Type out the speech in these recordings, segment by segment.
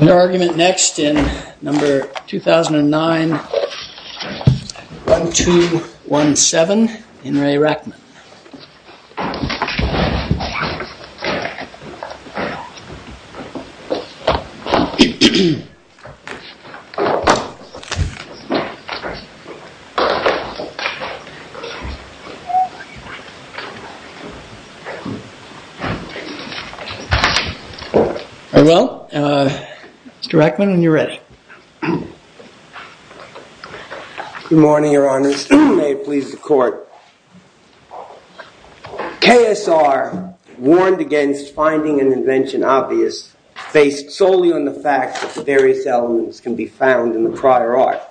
Your argument next in number 2009-1217, In Re Rackman. Well, Mr. Rackman, when you're ready. Good morning, your honors. May it please the court. KSR warned against finding an invention obvious based solely on the fact that various elements can be found in the prior art.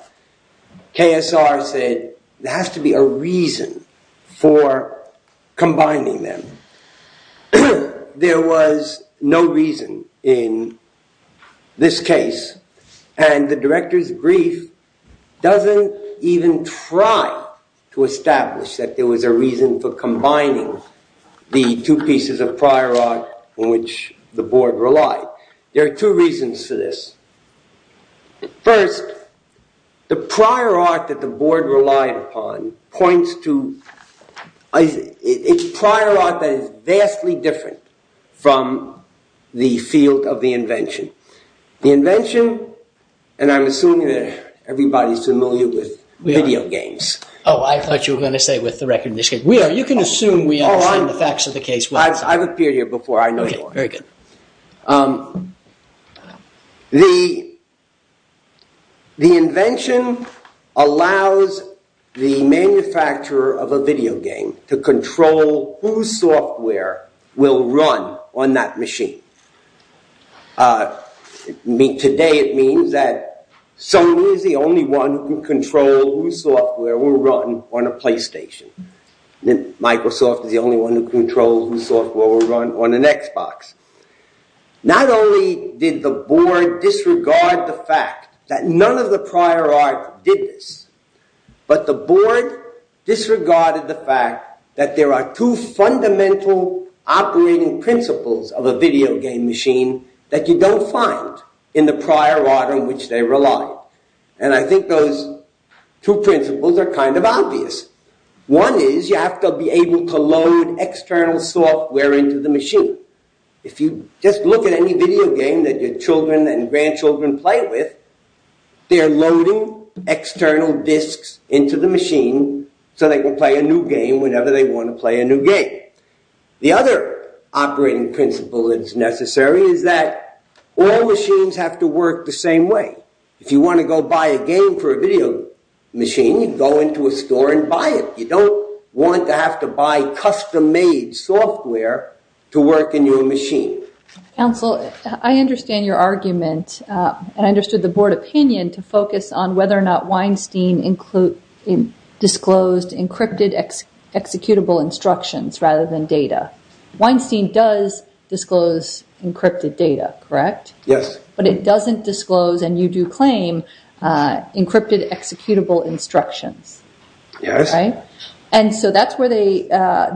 KSR said there has to be a reason for combining them. There was no reason in this case and the director's brief doesn't even try to establish that there was a reason for combining the two pieces of prior art in which the board relied. There are two reasons for this. First, the prior art that the board relied upon points to, it's prior art that is vastly different from the field of the invention. The invention, and I'm assuming that everybody's familiar with video games. Oh, I thought you were going to say with the record in this case. You can assume we understand the facts of the case. I've appeared here before, I know you are. Okay, very good. The invention allows the manufacturer of a video game to control whose software will run on that machine. Today it means that Sony is the only one who can control whose software will run on a PlayStation. Microsoft is the only one who controls whose software will run on an Xbox. Not only did the board disregard the fact that none of the prior art did this, but the board disregarded the fact that there are two fundamental operating principles of a video game machine that you don't find in the prior art in which they relied. I think those two principles are kind of obvious. One is you have to be able to load external software into the machine. If you just look at any video game that your children and grandchildren play with, they're loading external disks into the machine so they can play a new game whenever they want to play a new game. The other operating principle that's necessary is that all machines have to work the same way. If you want to go buy a game for a video machine, you go into a store and buy it. You don't want to have to buy custom-made software to work in your machine. Counsel, I understand your argument, and I understood the board opinion, to focus on whether or not Weinstein disclosed encrypted executable instructions rather than data. Weinstein does disclose encrypted data, correct? Yes. But it doesn't disclose, and you do claim, encrypted executable instructions. Yes. And so that's where they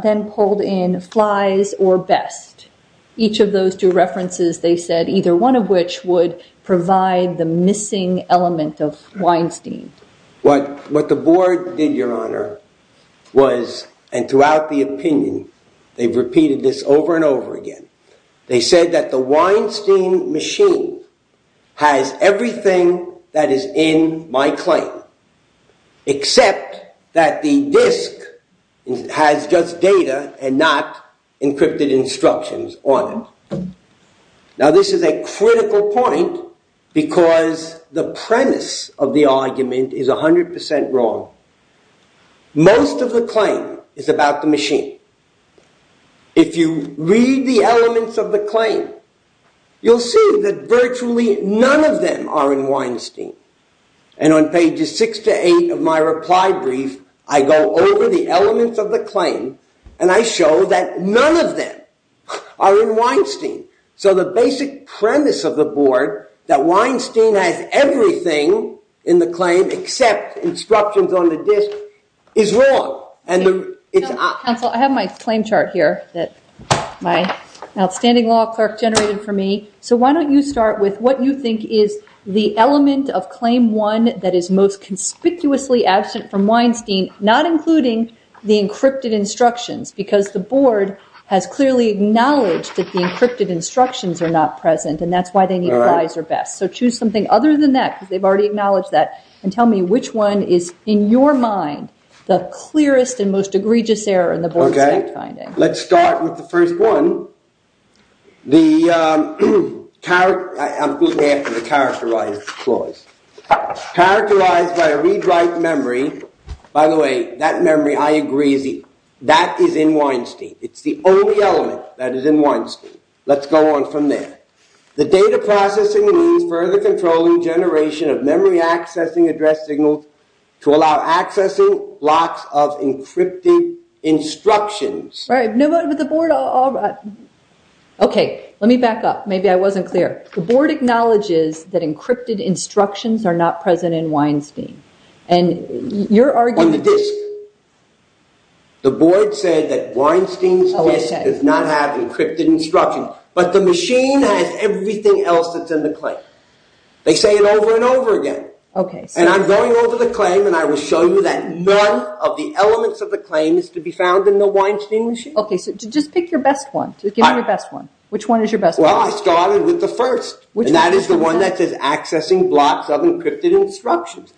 then pulled in flies or best. Each of those two references, they said, either one of which would provide the missing element of Weinstein. What the board did, Your Honor, was, and throughout the opinion, they've repeated this over and over again. They said that the Weinstein machine has everything that is in my claim, except that the disk has just data and not encrypted instructions on it. Now this is a critical point because the premise of the argument is 100% wrong. Most of the claim is about the machine. If you read the elements of the claim, you'll see that virtually none of them are in Weinstein. And on pages 6 to 8 of my reply brief, I go over the elements of the claim, and I show that none of them are in Weinstein. So the basic premise of the board, that Weinstein has everything in the claim, except instructions on the disk, is wrong. Counsel, I have my claim chart here that my outstanding law clerk generated for me. So why don't you start with what you think is the element of claim one that is most conspicuously absent from Weinstein, not including the encrypted instructions, because the board has clearly acknowledged that the encrypted instructions are not present, and that's why they need flies or best. So choose something other than that, because they've already acknowledged that, and tell me which one is, in your mind, the clearest and most egregious error in the board's fact-finding. Let's start with the first one. I'm looking at the characterized clause. Characterized by a read-write memory. By the way, that memory, I agree, that is in Weinstein. It's the only element that is in Weinstein. Let's go on from there. The data processing means further controlling generation of memory-accessing address signals to allow accessing blocks of encrypted instructions. Right, but the board... Okay, let me back up. Maybe I wasn't clear. The board acknowledges that encrypted instructions are not present in Weinstein, and your argument... On the disk. The board said that Weinstein's disk does not have encrypted instructions, but the machine has everything else that's in the claim. They say it over and over again. And I'm going over the claim, and I will show you that none of the elements of the claim is to be found in the Weinstein machine. Okay, so just pick your best one. Give me your best one. Which one is your best one? Well, I started with the first, and that is the one that says, accessing blocks of encrypted instructions.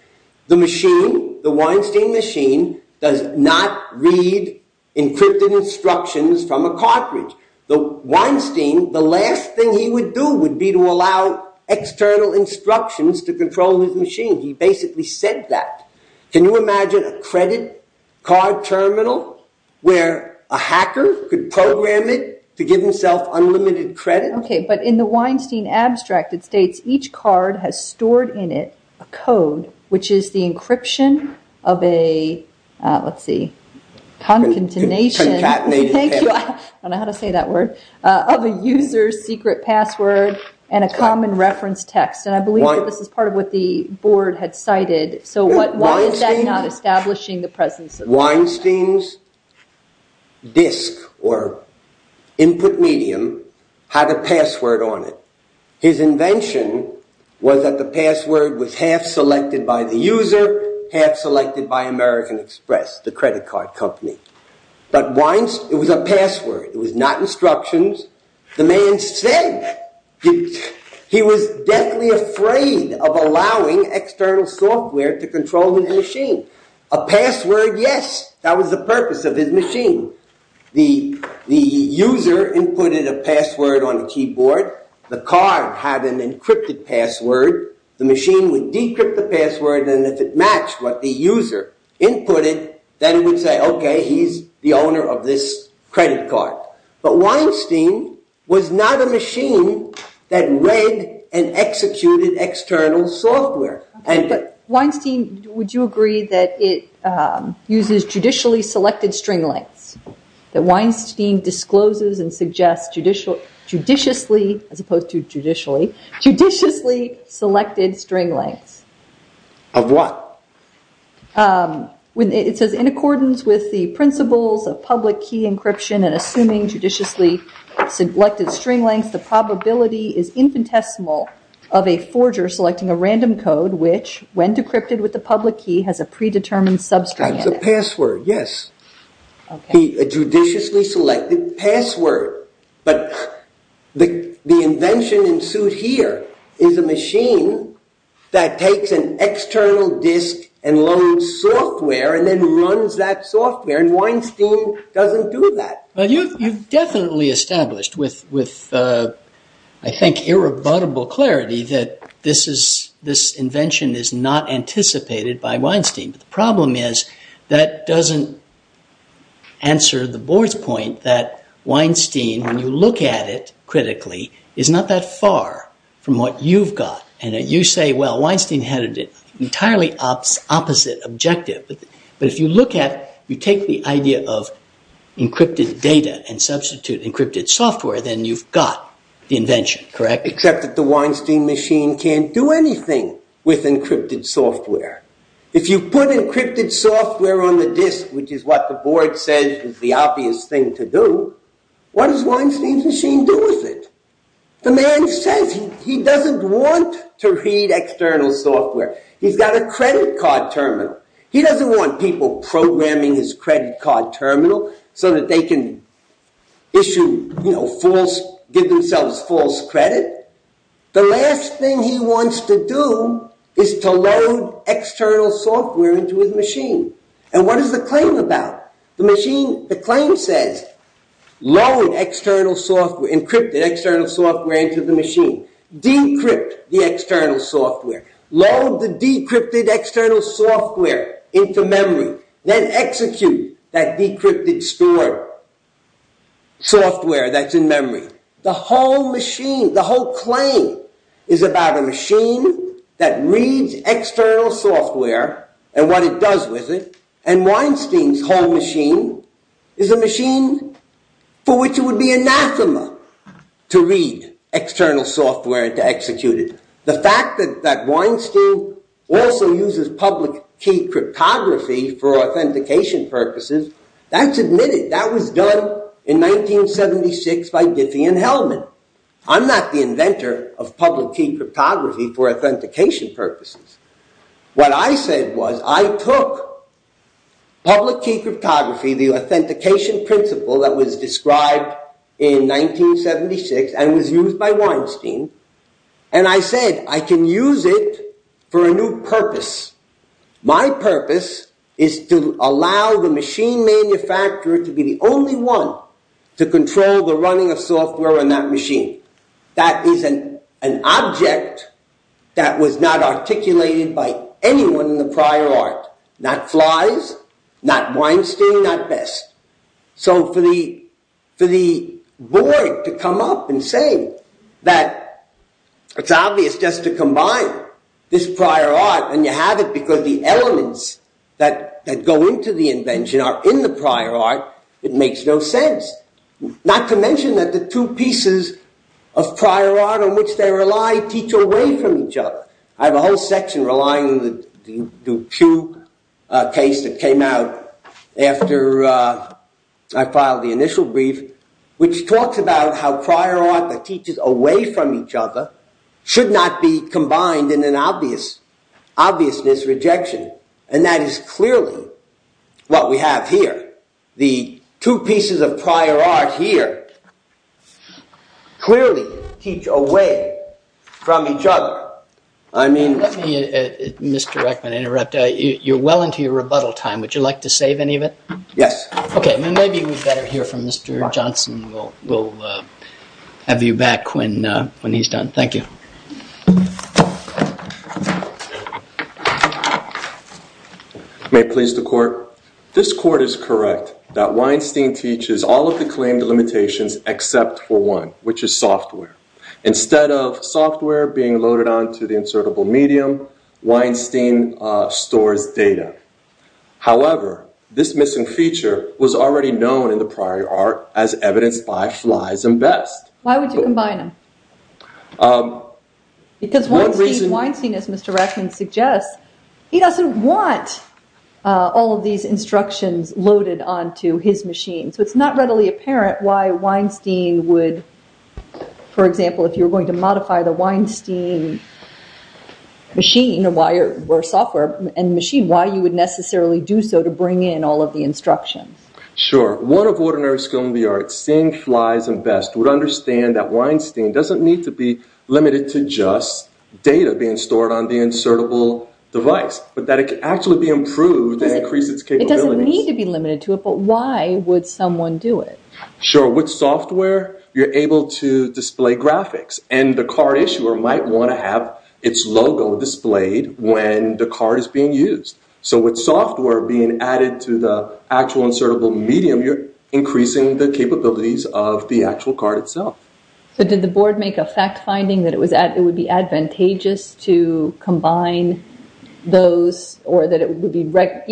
The machine, the Weinstein machine, does not read encrypted instructions from a cartridge. The Weinstein, the last thing he would do would be to allow external instructions to control his machine. He basically said that. Can you imagine a credit card terminal where a hacker could program it to give himself unlimited credit? Okay, but in the Weinstein abstract, it states each card has stored in it a code, which is the encryption of a, let's see, concatenation... I don't know how to say that word, of a user's secret password and a common reference text. And I believe this is part of what the board had cited. So why is that not establishing the presence of... Weinstein's disk or input medium had a password on it. His invention was that the password was half selected by the user, half selected by American Express, the credit card company. But Weinstein, it was a password. It was not instructions. The man said he was deathly afraid of allowing external software to control his machine. A password, yes. That was the purpose of his machine. The user inputted a password on the keyboard. The card had an encrypted password. The machine would decrypt the password, and if it matched what the user inputted, then it would say, okay, he's the owner of this credit card. But Weinstein was not a machine that read and executed external software. Weinstein, would you agree that it uses judicially selected string lengths? That Weinstein discloses and suggests judiciously, as opposed to judicially, judiciously selected string lengths? Of what? It says, in accordance with the principles of public key encryption and assuming judiciously selected string lengths, the probability is infinitesimal of a forger selecting a random code, which, when decrypted with the public key, has a predetermined substring. It's a password, yes. A judiciously selected password. But the invention in suit here is a machine that takes an external disk and loads software and then runs that software, and Weinstein doesn't do that. You've definitely established with, I think, irrebuttable clarity that this invention is not anticipated by Weinstein. The problem is that doesn't answer the board's point that Weinstein, when you look at it critically, is not that far from what you've got. And you say, well, Weinstein had an entirely opposite objective. But if you look at, you take the idea of encrypted data and substitute encrypted software, then you've got the invention, correct? Except that the Weinstein machine can't do anything with encrypted software. If you put encrypted software on the disk, which is what the board says is the obvious thing to do, what does Weinstein's machine do with it? The man says he doesn't want to read external software. He's got a credit card terminal. He doesn't want people programming his credit card terminal so that they can issue false, give themselves false credit. The last thing he wants to do is to load external software into his machine. And what is the claim about? The claim says, load encrypted external software into the machine. Decrypt the external software. Load the decrypted external software into memory. Then execute that decrypted stored software that's in memory. The whole machine, the whole claim is about a machine that reads external software and what it does with it. And Weinstein's whole machine is a machine for which it would be anathema to read external software and to execute it. The fact that Weinstein also uses public key cryptography for authentication purposes, that's admitted. That was done in 1976 by Diffie and Hellman. I'm not the inventor of public key cryptography for authentication purposes. What I said was, I took public key cryptography, the authentication principle that was described in 1976 and was used by Weinstein, and I said, I can use it for a new purpose. My purpose is to allow the machine manufacturer to be the only one to control the running of software on that machine. That is an object that was not articulated by anyone in the prior art. Not Fleiss, not Weinstein, not Best. So for the board to come up and say that it's obvious just to combine this prior art, and you have it because the elements that go into the invention are in the prior art, it makes no sense. Not to mention that the two pieces of prior art on which they rely teach away from each other. I have a whole section relying on the Duke Q case that came out after I filed the initial brief, which talks about how prior art that teaches away from each other should not be combined in an obvious rejection. And that is clearly what we have here. The two pieces of prior art here clearly teach away from each other. Let me, Mr. Reckman, interrupt. You're well into your rebuttal time. Would you like to save any of it? Yes. Okay, maybe we'd better hear from Mr. Johnson. We'll have you back when he's done. Thank you. May it please the Court. This Court is correct that Weinstein teaches all of the claimed limitations except for one, which is software. Instead of software being loaded onto the insertable medium, Weinstein stores data. However, this missing feature was already known in the prior art as evidenced by Fleiss and Best. Why would you combine them? Because Weinstein, as Mr. Reckman suggests, he doesn't want all of these instructions loaded onto his machine. So it's not readily apparent why Weinstein would, for example, if you were going to modify the Weinstein machine or software and machine, why you would necessarily do so to bring in all of the instructions. Sure. One of ordinary skill in the arts, seeing Fleiss and Best, would understand that Weinstein doesn't need to be limited to just data being stored on the insertable device, but that it could actually be improved and increase its capabilities. It doesn't need to be limited to it, but why would someone do it? Sure. With software, you're able to display graphics, and the card issuer might want to have its logo displayed when the card is being used. So with software being added to the actual insertable medium, you're increasing the capabilities of the actual card itself. So did the board make a fact finding that it would be advantageous to combine those, or that it would be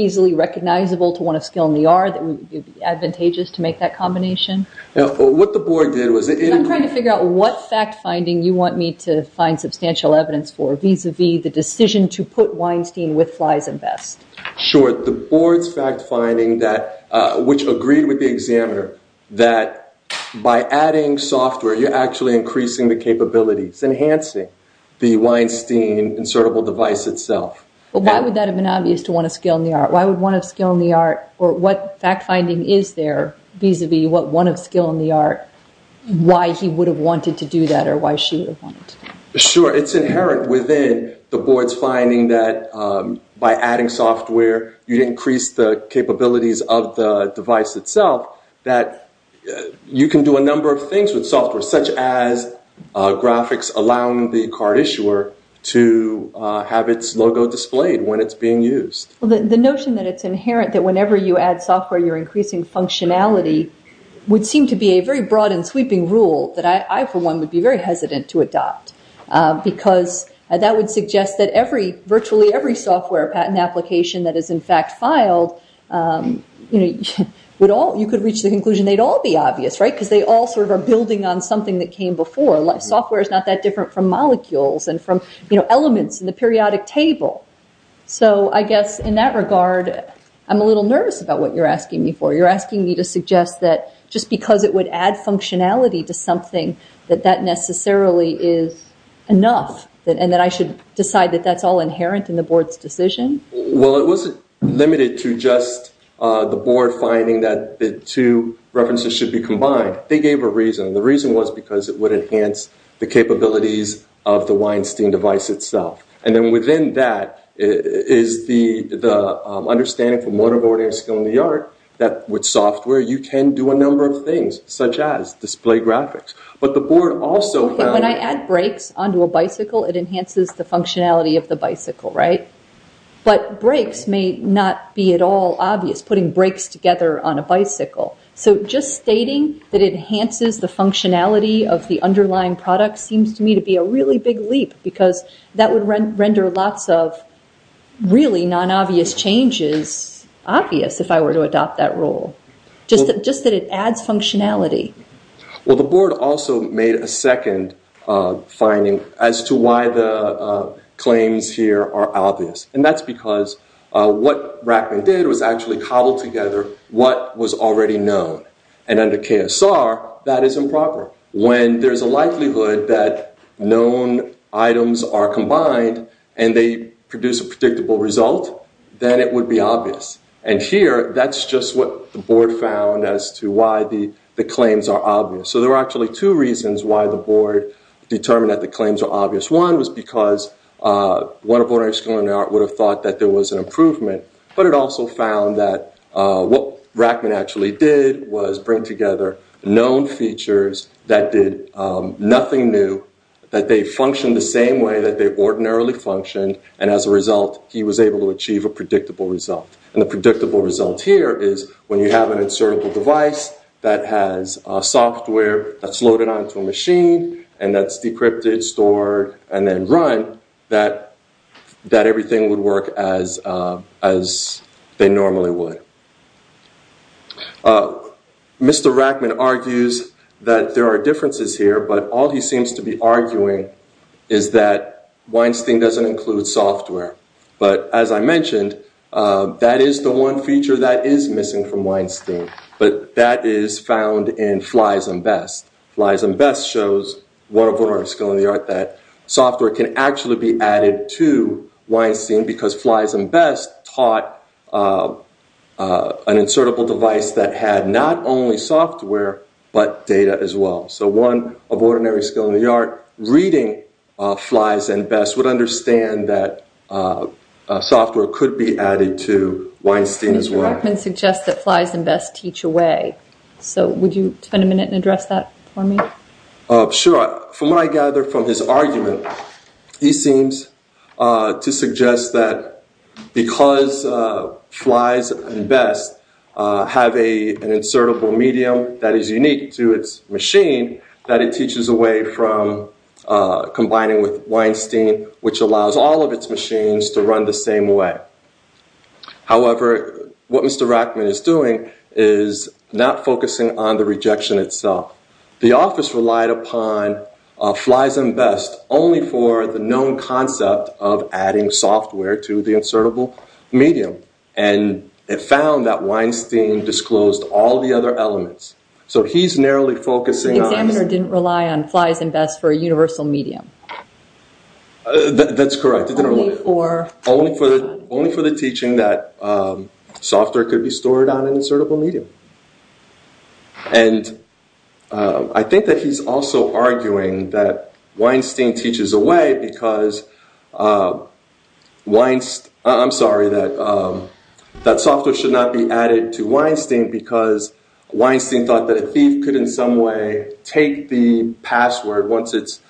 easily recognizable to one of skill in the art, that it would be advantageous to make that combination? What the board did was... I'm trying to figure out what fact finding you want me to find to put Weinstein with Fleiss and Best. Sure. The board's fact finding, which agreed with the examiner, that by adding software, you're actually increasing the capabilities, enhancing the Weinstein insertable device itself. But why would that have been obvious to one of skill in the art? Why would one of skill in the art, or what fact finding is there vis-a-vis what one of skill in the art, why he would have wanted to do that, or why she would have wanted to do that? Sure. It's inherent within the board's finding that by adding software, you'd increase the capabilities of the device itself, that you can do a number of things with software, such as graphics allowing the card issuer to have its logo displayed when it's being used. The notion that it's inherent that whenever you add software, you're increasing functionality, would seem to be a very broad and sweeping rule that I, for one, would be very hesitant to adopt, because that would suggest that virtually every software patent application that is in fact filed, you could reach the conclusion they'd all be obvious, because they all sort of are building on something that came before. Software is not that different from molecules and from elements in the periodic table. So I guess in that regard, I'm a little nervous about what you're asking me for. You're asking me to suggest that just because it would add functionality to something, that that necessarily is enough, and that I should decide that that's all inherent in the board's decision? Well, it wasn't limited to just the board finding that the two references should be combined. They gave a reason. The reason was because it would enhance the capabilities of the Weinstein device itself. And then within that is the understanding from motorboarding and skill in the art that with software you can do a number of things, such as display graphics. But the board also found- When I add brakes onto a bicycle, it enhances the functionality of the bicycle, right? But brakes may not be at all obvious, putting brakes together on a bicycle. So just stating that it enhances the functionality of the underlying product seems to me to be a really big leap, because that would render lots of really non-obvious changes obvious if I were to adopt that rule. Just that it adds functionality. Well, the board also made a second finding as to why the claims here are obvious. And that's because what Rackman did was actually cobbled together what was already known. And under KSR, that is improper. When there's a likelihood that known items are combined and they produce a predictable result, then it would be obvious. And here, that's just what the board found as to why the claims are obvious. So there are actually two reasons why the board determined that the claims are obvious. One was because one of motorboarding and skill in the art would have thought that there was an improvement. But it also found that what Rackman actually did was bring together known features that did nothing new, that they functioned the same way that they ordinarily functioned. And as a result, he was able to achieve a predictable result. And the predictable result here is when you have an insertable device that has software that's loaded onto a machine and that's decrypted, stored, and then run, that everything would work as they normally would. Mr. Rackman argues that there are differences here. But all he seems to be arguing is that Weinstein doesn't include software. But as I mentioned, that is the one feature that is missing from Weinstein. But that is found in Fly's and Best. Fly's and Best shows one of ordinary skill in the art that software can actually be added to Weinstein because Fly's and Best taught an insertable device that had not only software but data as well. So one of ordinary skill in the art reading Fly's and Best would understand that software could be added to Weinstein as well. Mr. Rackman suggests that Fly's and Best teach away. So would you spend a minute and address that for me? Sure. From what I gather from his argument, he seems to suggest that because Fly's and Best have an insertable medium that is unique to its machine, that it teaches away from combining with Weinstein, which allows all of its machines to run the same way. However, what Mr. Rackman is doing is not focusing on the rejection itself. The office relied upon Fly's and Best only for the known concept of adding software to the insertable medium. And it found that Weinstein disclosed all the other elements. So he's narrowly focusing on... The examiner didn't rely on Fly's and Best for a universal medium. That's correct. Only for the teaching that software could be stored on an insertable medium. And I think that he's also arguing that Weinstein teaches away because Weinstein... I'm sorry, that software should not be added to Weinstein because Weinstein thought that a thief could in some way take the password once it's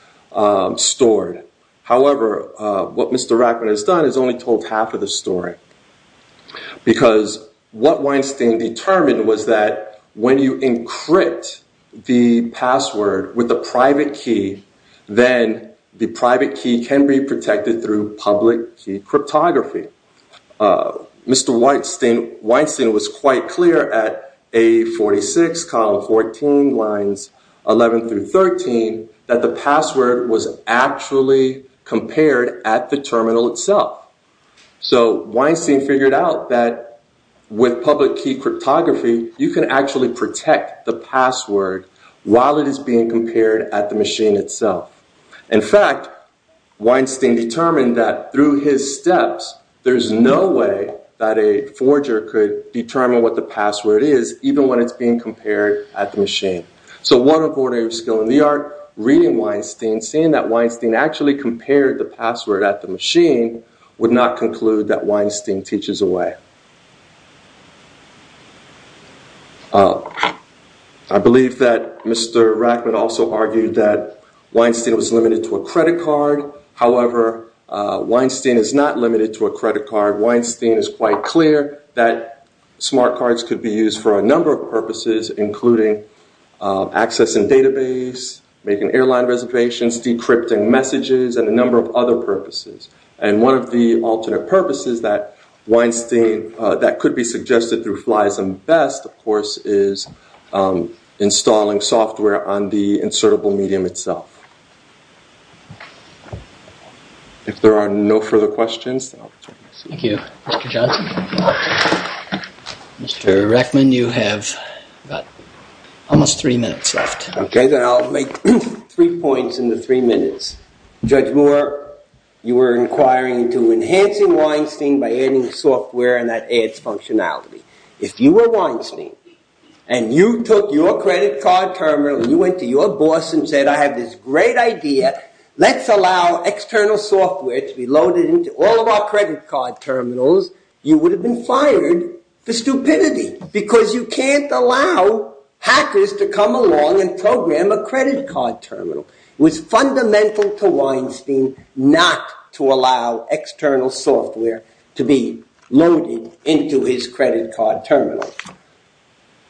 stored. However, what Mr. Rackman has done is only told half of the story. Because what Weinstein determined was that when you encrypt the password with a private key, then the private key can be protected through public key cryptography. Mr. Weinstein was quite clear at A46, column 14, lines 11 through 13, that the password was actually compared at the terminal itself. So Weinstein figured out that with public key cryptography, you can actually protect the password while it is being compared at the machine itself. In fact, Weinstein determined that through his steps, there's no way that a forger could determine what the password is, even when it's being compared at the machine. So one of ordinary skill in the art, reading Weinstein, seeing that Weinstein actually compared the password at the machine, would not conclude that Weinstein teaches away. I believe that Mr. Rackman also argued that Weinstein was limited to a credit card. However, Weinstein is not limited to a credit card. Weinstein is quite clear that smart cards could be used for a number of purposes, including access and database, making airline reservations, decrypting messages and a number of other purposes. And one of the alternate purposes that Weinstein that could be suggested through flies and best, of course, is installing software on the insertable medium itself. If there are no further questions, thank you. Mr. Rackman, you have almost three minutes left. OK, then I'll make three points in the three minutes. Judge Moore, you were inquiring into enhancing Weinstein by adding software and that adds functionality. If you were Weinstein and you took your credit card terminal and you went to your boss and said, I have this great idea. Let's allow external software to be loaded into all of our credit card terminals. You would have been fired for stupidity because you can't allow hackers to come along and program a credit card terminal. It was fundamental to Weinstein not to allow external software to be loaded into his credit card terminal.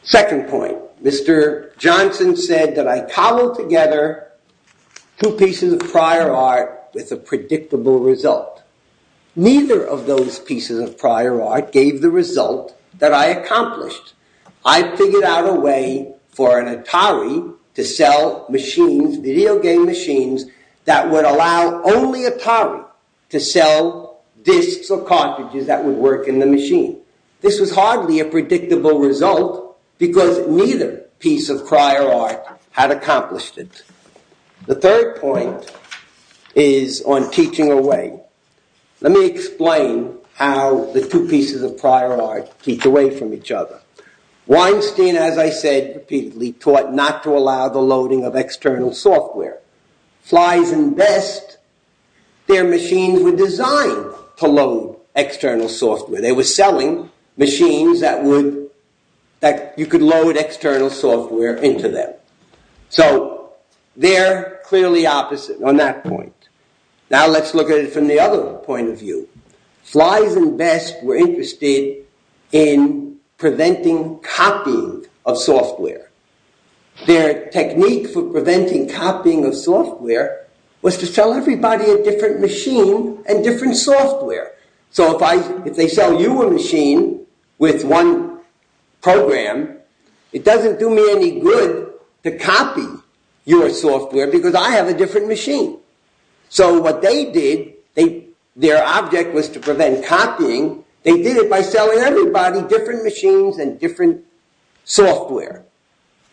Second point, Mr. Johnson said that I cobbled together two pieces of prior art with a predictable result. Neither of those pieces of prior art gave the result that I accomplished. I figured out a way for an Atari to sell machines, video game machines, that would allow only Atari to sell disks or cartridges that would work in the machine. This was hardly a predictable result because neither piece of prior art had accomplished it. The third point is on teaching away. Let me explain how the two pieces of prior art teach away from each other. Weinstein, as I said repeatedly, taught not to allow the loading of external software. Flies and Vest, their machines were designed to load external software. They were selling machines that you could load external software into them. So they're clearly opposite on that point. Now let's look at it from the other point of view. Flies and Vest were interested in preventing copying of software. Their technique for preventing copying of software was to sell everybody a different machine and different software. So if they sell you a machine with one program, it doesn't do me any good to copy your software because I have a different machine. So what they did, their object was to prevent copying. They did it by selling everybody different machines and different software.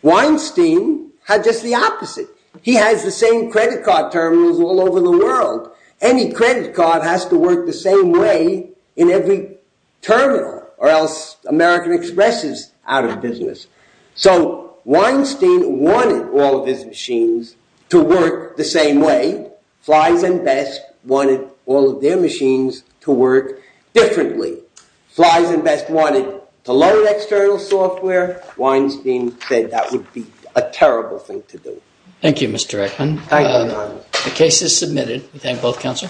Weinstein had just the opposite. He has the same credit card terminals all over the world. Any credit card has to work the same way in every terminal or else American Express is out of business. So Weinstein wanted all of his machines to work the same way. Flies and Vest wanted all of their machines to work differently. Flies and Vest wanted to load external software. Weinstein said that would be a terrible thing to do. Thank you, Mr. Eckman. The case is submitted. We thank both counsel.